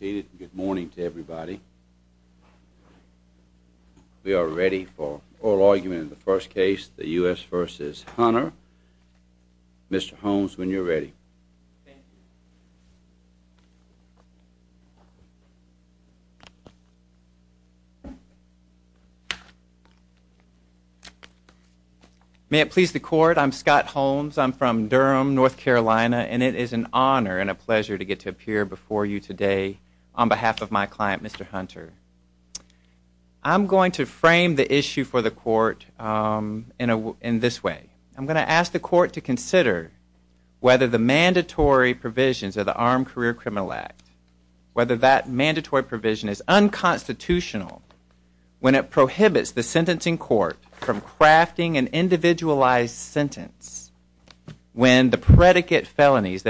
Good morning to everybody. We are ready for oral argument in the first case, the U.S. v. Hunter. Mr. Holmes, when you're ready. May it please the court, I'm Scott Holmes. I'm from Durham, North Carolina, and it is an honor and a pleasure to get to appear before you today on behalf of my client, Mr. Hunter. I'm going to frame the issue for the court in this way. I'm going to ask the court to consider whether the mandatory provisions of the Armed Career Criminal Act, whether that mandatory provision is unconstitutional when it prohibits the sentencing court from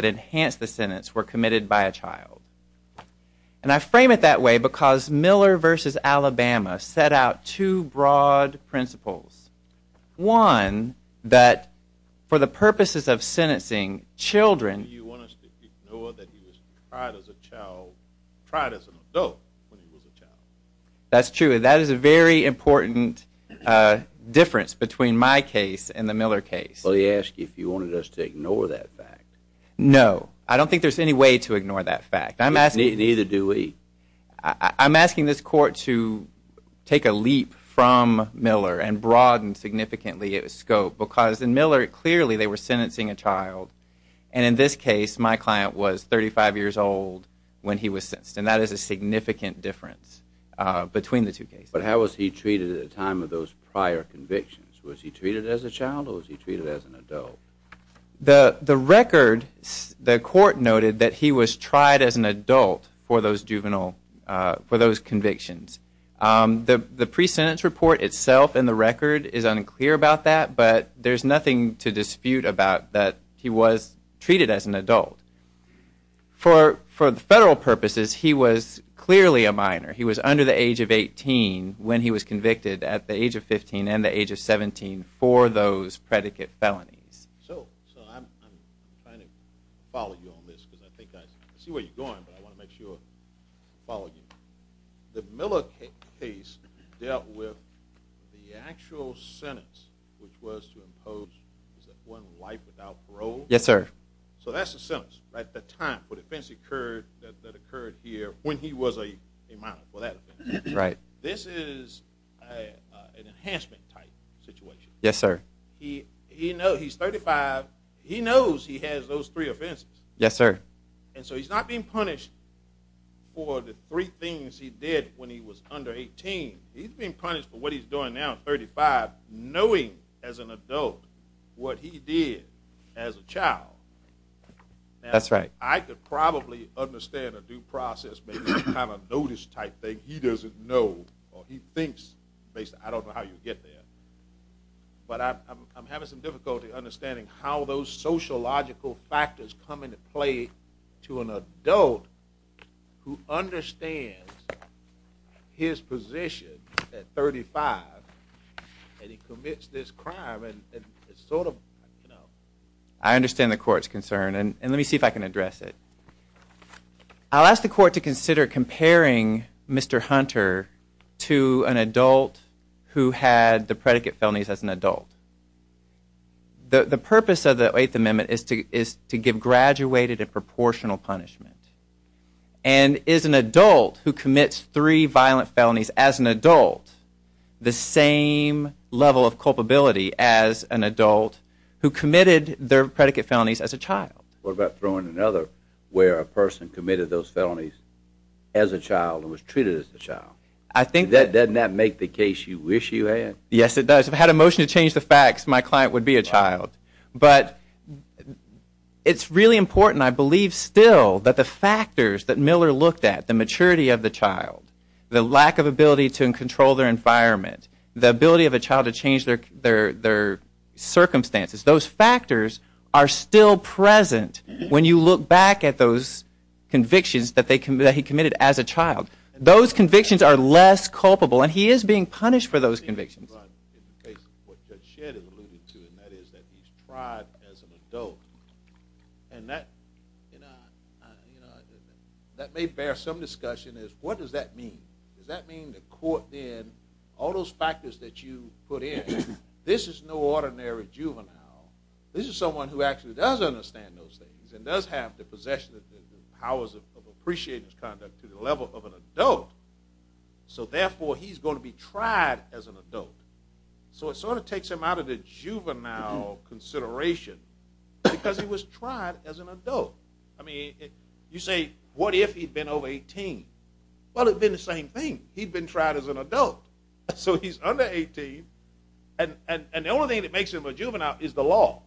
enhance the sentence were committed by a child. And I frame it that way because Miller v. Alabama set out two broad principles. One, that for the purposes of sentencing children You want us to ignore that he was tried as a child, tried as an adult when he was a child. That's true, and that is a very important difference between my case and the Miller case. Well, he asked if you wanted us to ignore that fact. No, I don't think there's any way to ignore that fact. I'm asking Neither do we. I'm asking this court to take a leap from Miller and broaden significantly its scope because in Miller, clearly they were sentencing a child. And in this case, my client was 35 years old when he was sentenced. And that is a significant difference between the two cases. But how was he treated at the time of those prior convictions? Was he treated as a child or was he treated as an adult? The record, the court noted that he was tried as an adult for those convictions. The pre-sentence report itself in the record is unclear about that, but there's nothing to dispute about that he was treated as an adult. For federal purposes, he was clearly a minor. He was under the age of 18 when he was convicted, at the age of 15 and the age of 17 for those predicate felonies. So, I'm trying to follow you on this because I think I see where you're going, but I want to make sure I follow you. The Miller case dealt with the actual sentence, which was to impose one life without parole? Yes, sir. So that's the sentence at the time for the offense that occurred here when he was a minor for that offense. Right. This is an enhancement type situation. Yes, sir. He's 35. He knows he has those three offenses. Yes, sir. And so he's not being punished for the three things he did when he was under 18. He's being punished for what he's doing now at 35, knowing as an adult what he did as a child. That's right. I could probably understand a due process, maybe a kind of notice type thing. He doesn't know or he thinks, basically, I don't know how you get there. But I'm having some difficulty understanding how those sociological factors come into play to an adult who understands his position at 35 and he commits this crime and it's sort of, you know. I understand the court's concern. And let me see if I can address it. I'll ask the court to consider comparing Mr. Hunter to an adult who had the predicate felonies as an adult. The purpose of the Eighth Amendment is to give graduated and proportional punishment. And is an adult who commits three violent felonies as an adult the same level of culpability as an adult who committed their predicate felonies as a child? What about throwing another where a person committed those felonies as a child and was treated as a child? Doesn't that make the case you wish you had? Yes, it does. If I had a motion to change the facts, my client would be a child. But it's really important, I believe still, that the factors that Miller looked at, the maturity of the child, the lack of ability to control their environment, the ability of a child to change their circumstances, those factors are still present when you look back at those convictions that he committed as a child. Those convictions are less culpable and he is being punished for those convictions. In the case of what Judge Shedd has alluded to, and that is that he's tried as an adult, and that may bear some discussion, is what does that mean? Does that mean the court then, all those factors that you put in, this is no ordinary juvenile. This is someone who actually does understand those things and does have the possession of the powers of appreciating his conduct to the level of an adult. So therefore, he's going to be tried as an adult. So it sort of takes him out of the juvenile consideration because he was tried as an adult. I mean, you say, what if he'd been over 18? Well, it would have been the same thing. He'd been tried as an adult. So he's under 18 and the only thing that makes him a juvenile is the law.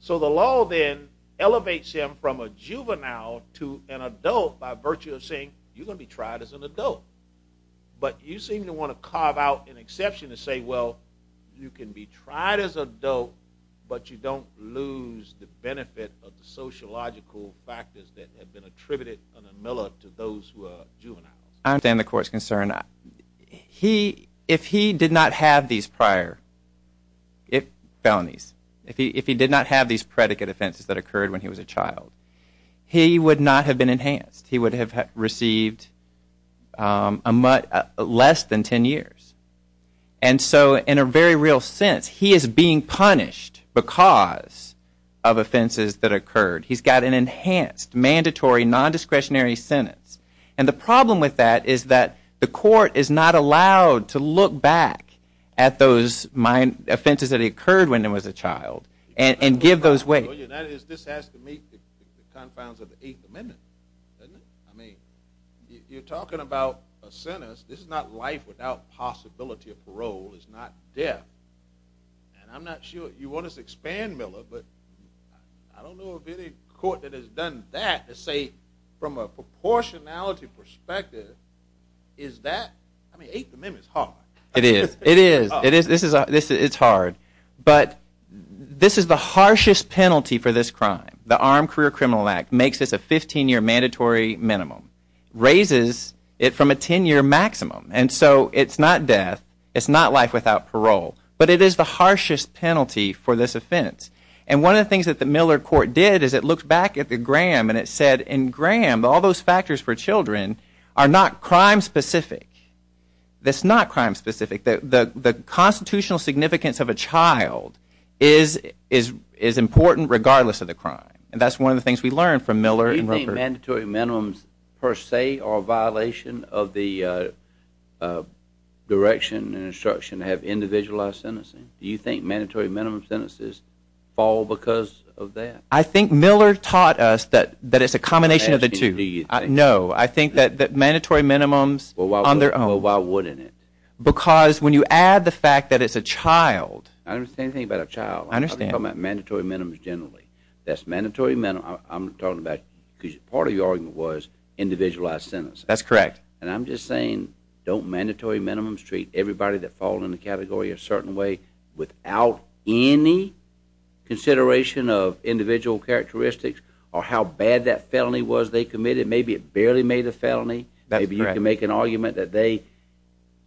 So the law then elevates him from a juvenile to an adult by virtue of saying, you're going to be tried as an adult. But you seem to want to carve out an exception to say, well, you can be tried as an adult but you don't lose the benefit of the sociological factors that have been attributed to those who are juveniles. I understand the court's concern. If he did not have these prior felonies, if he did not have these predicate offenses that occurred when he was a child, he would not have been enhanced. He would have received less than 10 years. And so in a very real sense, he is being punished because of offenses that occurred. He's got an enhanced, mandatory, nondiscretionary sentence. And the problem with that is that the court is not allowed to look back at those offenses that occurred when he was a child and give those weight. This has to meet the confines of the Eighth Amendment, doesn't it? I mean, you're talking about a sentence. This is not life without possibility of parole. It's not death. And I'm not sure you want to expand, Miller, but I don't know of any court that has done that to say from a proportionality perspective, is that, I mean, Eighth Amendment is hard. It is. It is. It's hard. But this is the harshest penalty for this crime. The Armed Career Criminal Act makes this a 15-year mandatory minimum, raises it from a 10-year maximum. And so it's not death. It's not life without parole. But it is the harshest penalty for this offense. And one of the things that the Miller court did is it looked back at the gram and it said, in gram, all those factors for children are not crime-specific. That's not crime-specific. The constitutional significance of a child is important regardless of the crime. And that's one of the things we learned from Miller. Do you think mandatory minimums per se are a violation of the direction and instruction to have individualized sentencing? Do you think mandatory minimum sentences fall because of that? I think Miller taught us that it's a combination of the two. No, I think that mandatory minimums on their own. Well, why wouldn't it? Because when you add the fact that it's a child. I don't understand anything about a child. I'm talking about mandatory minimums generally. That's mandatory minimums. I'm talking about because part of your argument was individualized sentences. That's correct. And I'm just saying don't mandatory minimums treat everybody that falls in the category a certain way without any consideration of individual characteristics or how bad that felony was they committed? Maybe it barely made a felony. Maybe you can make an argument that they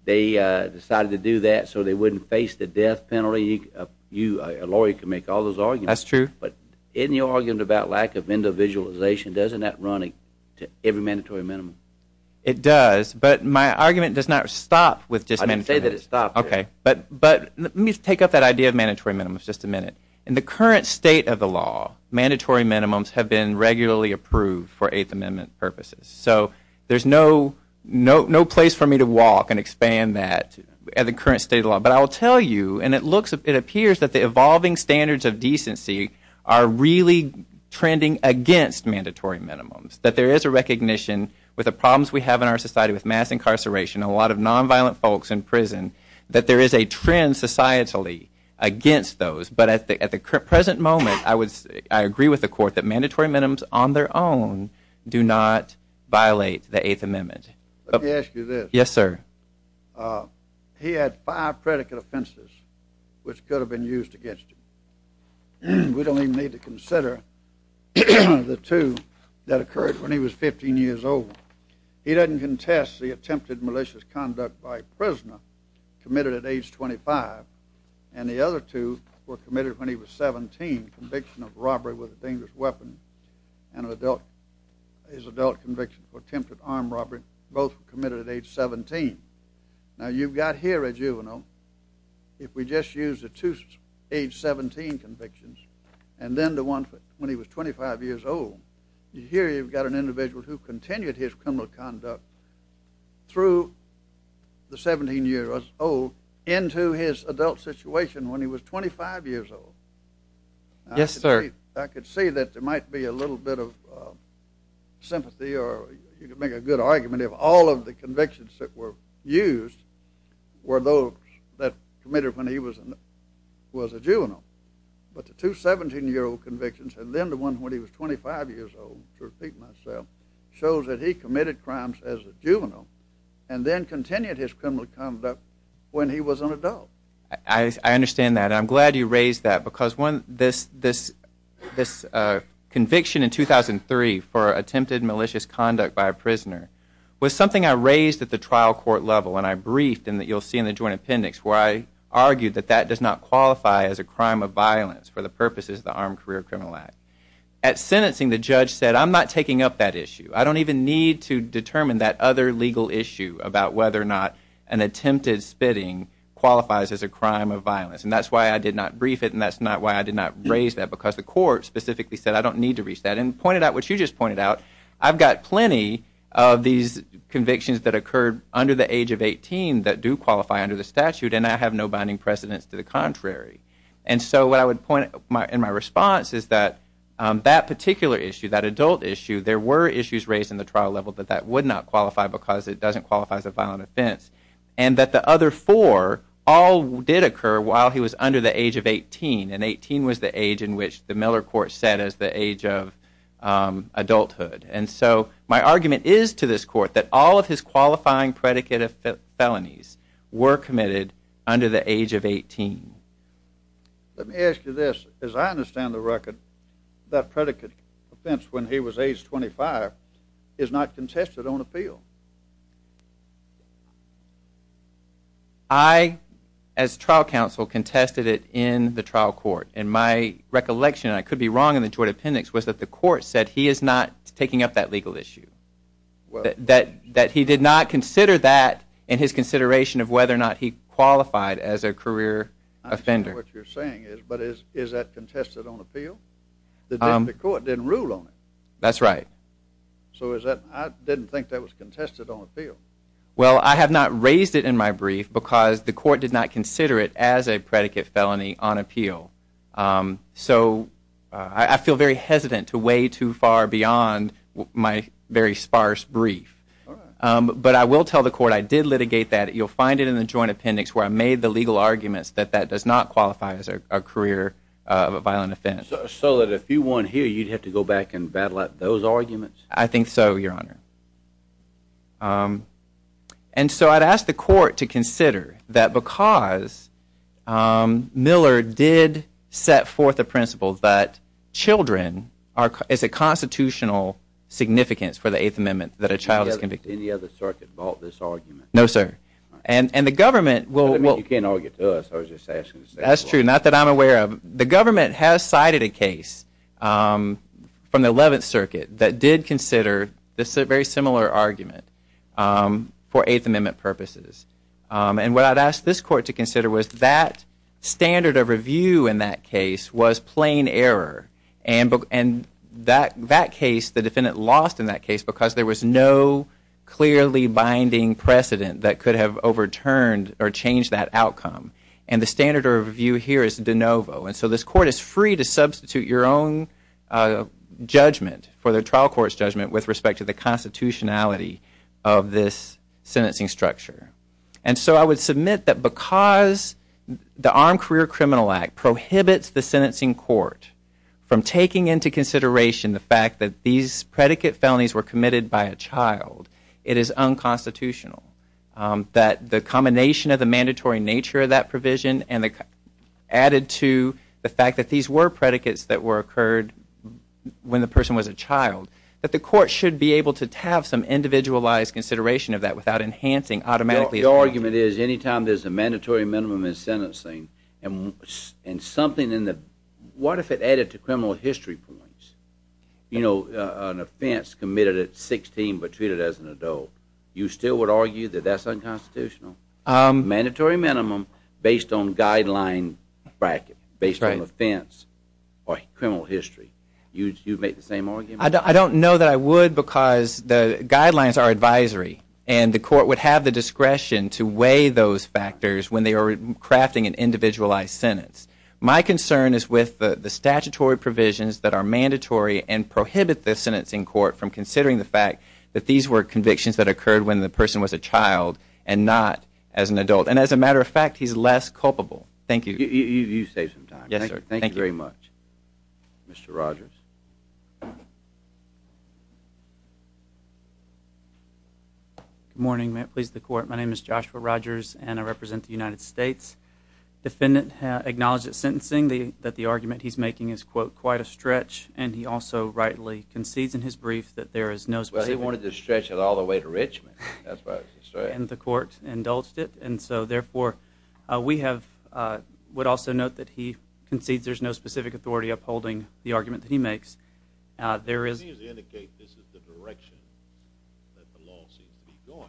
decided to do that so they wouldn't face the death penalty. A lawyer can make all those arguments. That's true. But in your argument about lack of individualization, doesn't that run to every mandatory minimum? It does, but my argument does not stop with just mandatory minimums. I didn't say that it stopped. Okay. But let me take up that idea of mandatory minimums just a minute. In the current state of the law, mandatory minimums have been regularly approved for Eighth Amendment purposes. So there's no place for me to walk and expand that at the current state of the law. But I will tell you, and it appears that the evolving standards of decency are really trending against mandatory minimums, that there is a recognition with the problems we have in our society with mass incarceration and a lot of nonviolent folks in prison that there is a trend societally against those. But at the present moment, I agree with the Court that mandatory minimums on their own do not violate the Eighth Amendment. Let me ask you this. Yes, sir. He had five predicate offenses which could have been used against him. We don't even need to consider the two that occurred when he was 15 years old. He doesn't contest the attempted malicious conduct by a prisoner committed at age 25, and the other two were committed when he was 17, the conviction of robbery with a dangerous weapon and his adult conviction for attempted armed robbery. Both were committed at age 17. Now, you've got here a juvenile. If we just use the two age 17 convictions and then the one when he was 25 years old, here you've got an individual who continued his criminal conduct through the 17-year-old into his adult situation when he was 25 years old. Yes, sir. I could see that there might be a little bit of sympathy or you could make a good argument if all of the convictions that were used were those that committed when he was a juvenile. But the two 17-year-old convictions and then the one when he was 25 years old, shows that he committed crimes as a juvenile and then continued his criminal conduct when he was an adult. I understand that. I'm glad you raised that because this conviction in 2003 for attempted malicious conduct by a prisoner was something I raised at the trial court level and I briefed and you'll see in the joint appendix where I argued that that does not qualify as a crime of violence for the purposes of the Armed Career Criminal Act. At sentencing the judge said I'm not taking up that issue. I don't even need to determine that other legal issue about whether or not an attempted spitting qualifies as a crime of violence and that's why I did not brief it and that's not why I did not raise that because the court specifically said I don't need to reach that and pointed out what you just pointed out. I've got plenty of these convictions that occurred under the age of 18 that do qualify under the statute and I have no binding precedence to the contrary. And so what I would point in my response is that that particular issue, that adult issue, there were issues raised in the trial level that that would not qualify because it doesn't qualify as a violent offense and that the other four all did occur while he was under the age of 18 and 18 was the age in which the Miller court set as the age of adulthood and so my argument is to this court that all of his qualifying predicate of felonies were committed under the age of 18. Let me ask you this. As I understand the record, that predicate offense when he was age 25 is not contested on appeal. I, as trial counsel, contested it in the trial court and my recollection, and I could be wrong in the joint appendix, was that the court said he is not taking up that legal issue, that he did not consider that in his consideration of whether or not he qualified as a career offender. I understand what you're saying, but is that contested on appeal? The court didn't rule on it. That's right. So I didn't think that was contested on appeal. Well, I have not raised it in my brief because the court did not consider it as a predicate felony on appeal. So I feel very hesitant to weigh too far beyond my very sparse brief. But I will tell the court I did litigate that. You'll find it in the joint appendix where I made the legal arguments that that does not qualify as a career of a violent offense. So that if you won here, you'd have to go back and battle out those arguments? I think so, Your Honor. And so I'd ask the court to consider that because Miller did set forth a principle that children is a constitutional significance for the Eighth Amendment that a child is convicted. Any other circuit bought this argument? No, sir. And the government will... You can't argue with us. I was just asking to say that. That's true. Not that I'm aware of. The government has cited a case from the Eleventh Circuit that did consider this very similar argument for Eighth Amendment purposes. And what I'd ask this court to consider was that standard of review in that case was plain error. And that case, the defendant lost in that case because there was no clearly binding precedent that could have overturned or changed that outcome. And the standard of review here is de novo. And so this court is free to substitute your own judgment for the trial court's judgment with respect to the constitutionality of this sentencing structure. And so I would submit that because the Armed Career Criminal Act prohibits the sentencing court from taking into consideration the fact that these predicate felonies were committed by a child, it is unconstitutional. That the combination of the mandatory nature of that provision and added to the fact that these were predicates that occurred when the person was a child, that the court should be able to have some individualized consideration of that without enhancing automatically... Your argument is anytime there's a mandatory minimum in sentencing and something in the... What if it added to criminal history points? You know, an offense committed at 16 but treated as an adult. You still would argue that that's unconstitutional? Mandatory minimum based on guideline bracket, based on offense or criminal history. You would make the same argument? I don't know that I would because the guidelines are advisory and the court would have the discretion to weigh those factors when they are crafting an individualized sentence. My concern is with the statutory provisions that are mandatory and prohibit the sentencing court from considering the fact that these were convictions that occurred when the person was a child and not as an adult. And as a matter of fact, he's less culpable. Thank you. You saved some time. Yes, sir. Thank you very much. Thank you. Mr. Rogers. Good morning. May it please the court, my name is Joshua Rogers and I represent the United States. Defendant acknowledged at sentencing that the argument he's making is, quote, quite a stretch, and he also rightly concedes in his brief that there is no... Well, he wanted to stretch it all the way to Richmond. That's what I was going to say. And the court indulged it. And so, therefore, we have... would also note that he concedes there's no specific authority upholding the argument that he makes. There is... It seems to indicate this is the direction that the law seems to be going.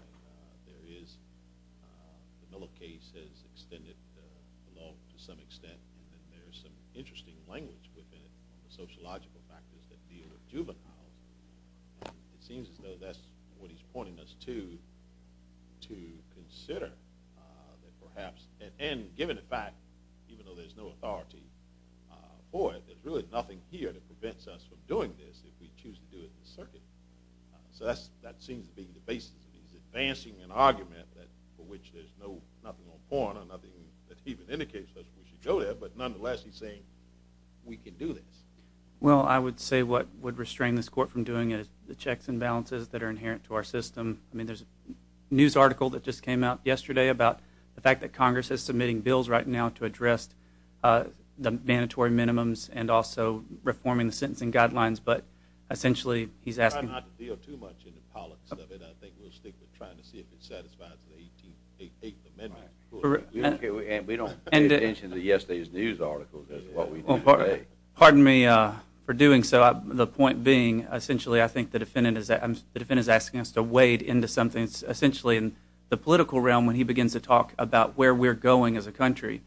There is...the Miller case has extended the law to some extent and there's some interesting language within it, the sociological factors that deal with juveniles. It seems as though that's what he's pointing us to, to consider that perhaps... And given the fact, even though there's no authority for it, there's really nothing here that prevents us from doing this if we choose to do it in the circuit. So that seems to be the basis. He's advancing an argument for which there's no... nothing on porn or nothing that even indicates that we should go there, but nonetheless he's saying we can do this. Well, I would say what would restrain this court from doing is the checks and balances that are inherent to our system. I mean, there's a news article that just came out yesterday about the fact that Congress is submitting bills right now to address the mandatory minimums and also reforming the sentencing guidelines, but essentially he's asking... I'm not going to deal too much in the politics of it. I think we'll stick with trying to see if it satisfies the 18th... Eighth Amendment. And we don't pay attention to yesterday's news articles. Pardon me for doing so. The point being, essentially, I think the defendant is asking us to wade into something essentially in the political realm when he begins to talk about where we're going as a country.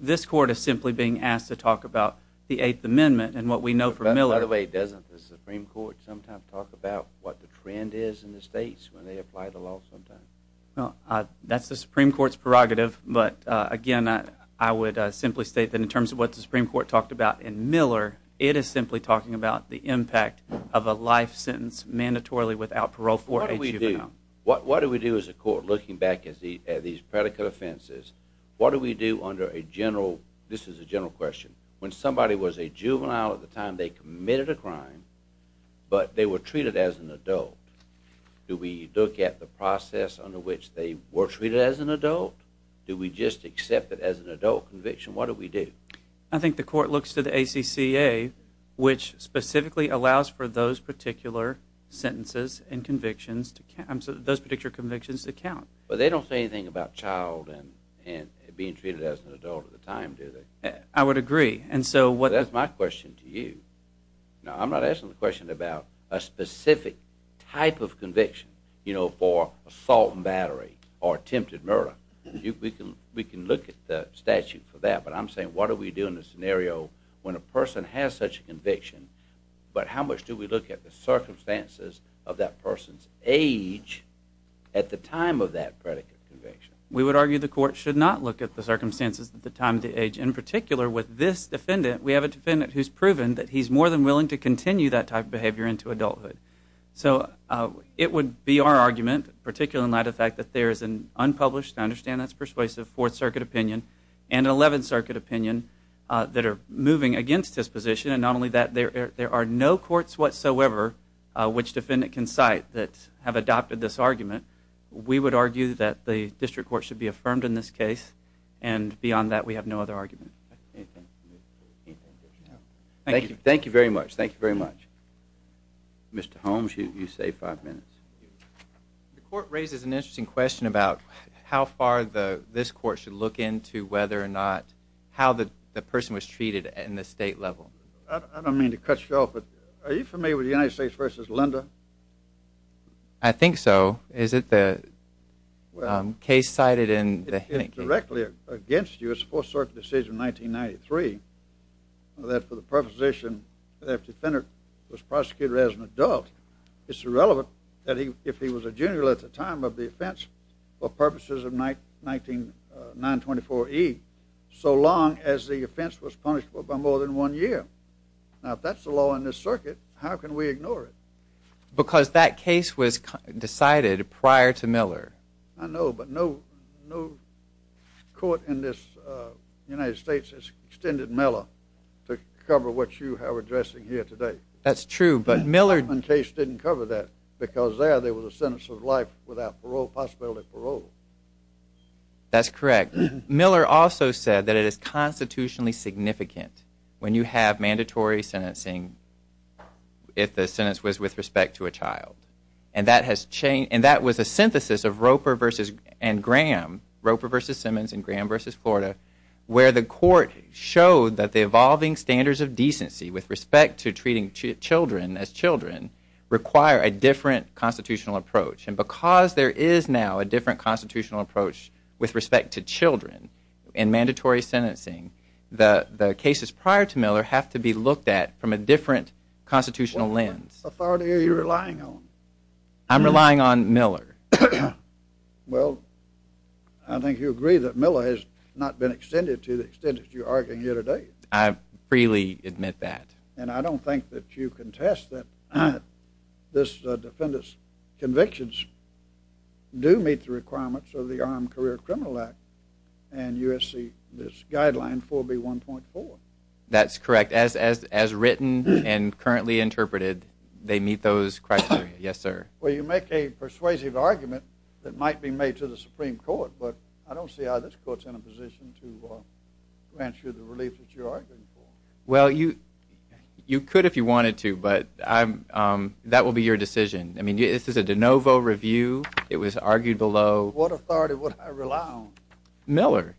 This court is simply being asked to talk about the Eighth Amendment and what we know from Miller. By the way, doesn't the Supreme Court sometimes talk about what the trend is in the states when they apply the law sometimes? That's the Supreme Court's prerogative, but again, I would simply state that in terms of what the Supreme Court talked about in Miller, it is simply talking about the impact of a life sentence mandatorily without parole for a juvenile. What do we do as a court, looking back at these predicate offenses, what do we do under a general... This is a general question. When somebody was a juvenile at the time, they committed a crime, but they were treated as an adult. Do we look at the process under which they were treated as an adult? Do we just accept it as an adult conviction? What do we do? I think the court looks to the ACCA, which specifically allows for those particular sentences and convictions to count. But they don't say anything about child and being treated as an adult at the time, do they? I would agree. That's my question to you. I'm not asking the question about a specific type of conviction for assault and battery or attempted murder. We can look at the statute for that, but I'm saying what do we do in a scenario when a person has such a conviction, but how much do we look at the circumstances of that person's age at the time of that predicate conviction? We would argue the court should not look at the circumstances at the time of the age. In particular, with this defendant, we have a defendant who's proven that he's more than willing to continue that type of behavior into adulthood. So it would be our argument, particularly in light of the fact that there is an unpublished, I understand that's persuasive, Fourth Circuit opinion and an Eleventh Circuit opinion that are moving against this position, and not only that, there are no courts whatsoever which defendant can cite that have adopted this argument. We would argue that the district court should be affirmed in this case, and beyond that, we have no other argument. Thank you very much. Thank you very much. Mr. Holmes, you save five minutes. The court raises an interesting question about how far this court should look into whether or not how the person was treated in the state level. I don't mean to cut you off, but are you familiar with the United States v. Linda? I think so. Is it the case cited in the Hennigan? It's directly against you. It's a Fourth Circuit decision in 1993 that for the proposition that a defendant was prosecuted as an adult, it's irrelevant that if he was a junior at the time of the offense for purposes of 924E, so long as the offense was punished for by more than one year. Now, if that's the law in this circuit, how can we ignore it? Because that case was decided prior to Miller. I know, but no court in this United States has extended Miller to cover what you are addressing here today. That's true, but Miller... The Hoffman case didn't cover that because there there was a sentence of life without parole, possibility of parole. That's correct. Miller also said that it is constitutionally significant when you have mandatory sentencing if the sentence was with respect to a child. And that was a synthesis of Roper v. Graham, Roper v. Simmons and Graham v. Florida, where the court showed that the evolving standards of decency with respect to treating children as children require a different constitutional approach. And because there is now a different constitutional approach with respect to children and mandatory sentencing, the cases prior to Miller have to be looked at from a different constitutional lens. What authority are you relying on? I'm relying on Miller. Well, I think you agree that Miller has not been extended to the extent that you are arguing here today. I freely admit that. And I don't think that you contest that this defendant's convictions do meet the requirements of the Armed Career Criminal Act and USC, this guideline 4B1.4. That's correct. As written and currently interpreted, they meet those criteria, yes, sir. Well, you make a persuasive argument that might be made to the Supreme Court, but I don't see how this court's in a position to grant you the relief that you're arguing for. Well, you could if you wanted to, but that will be your decision. I mean, this is a de novo review. It was argued below... What authority would I rely on? Miller.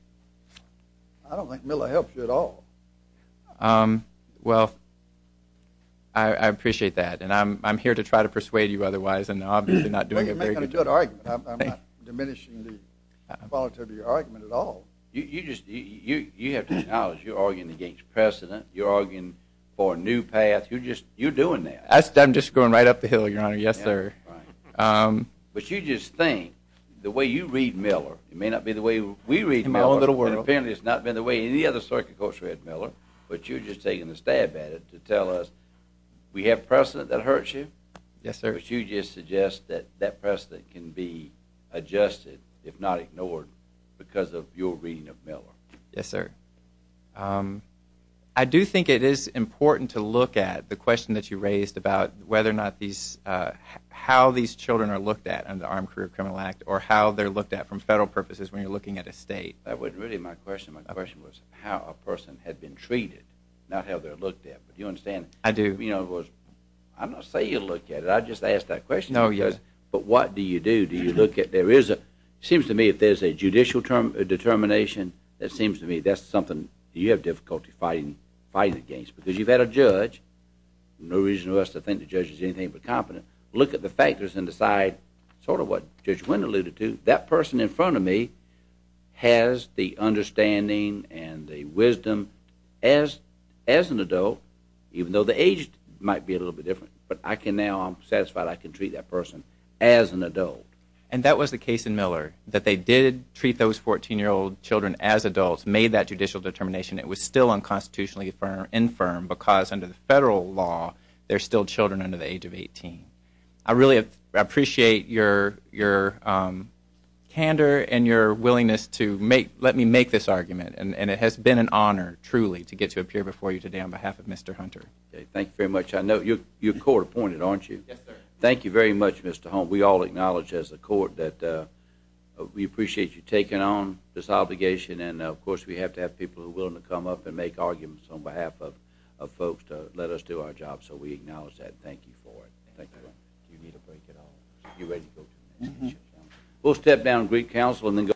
I don't think Miller helps you at all. Well, I appreciate that. And I'm here to try to persuade you otherwise. Well, you're making a good argument. I'm not diminishing the quality of your argument at all. You have to acknowledge you're arguing against precedent. You're arguing for a new path. You're doing that. I'm just going right up the hill, Your Honor. Yes, sir. But you just think the way you read Miller may not be the way we read Miller. And apparently it's not been the way any other circuit courts read Miller. But you're just taking a stab at it to tell us we have precedent that hurts you. Yes, sir. But you just suggest that that precedent can be adjusted, if not ignored, because of your reading of Miller. Yes, sir. I do think it is important to look at the question that you raised about whether or not these... how these children are looked at under the Armed Career Criminal Act or how they're looked at from federal purposes when you're looking at a state. That wasn't really my question. My question was how a person had been treated, not how they're looked at. Do you understand? I do. I'm not saying you look at it. I just asked that question. No, you don't. But what do you do? Do you look at... There is a... It seems to me if there's a judicial determination, that seems to me that's something you have difficulty fighting against. Because you've had a judge. No reason for us to think the judge is anything but competent. Look at the factors and decide sort of what Judge Wynn alluded to. That person in front of me has the understanding and the wisdom as an adult, even though the age might be a little bit different. But I can now... I'm satisfied I can treat that person as an adult. And that was the case in Miller, that they did treat those 14-year-old children as adults, made that judicial determination. It was still unconstitutionally infirm because under the federal law, they're still children under the age of 18. I really appreciate your candor and your willingness to let me make this argument. And it has been an honor, truly, to get to appear before you today on behalf of Mr. Hunter. Thank you very much. I know you're court-appointed, aren't you? Yes, sir. Thank you very much, Mr. Hunt. We all acknowledge as a court that we appreciate you taking on this obligation. And, of course, we have to have people who are willing to come up and make arguments on behalf of folks to let us do our job. So we acknowledge that and thank you for it. Thank you. You need a break at all. You ready to go? Mm-hmm. We'll step down and greet counsel and then go.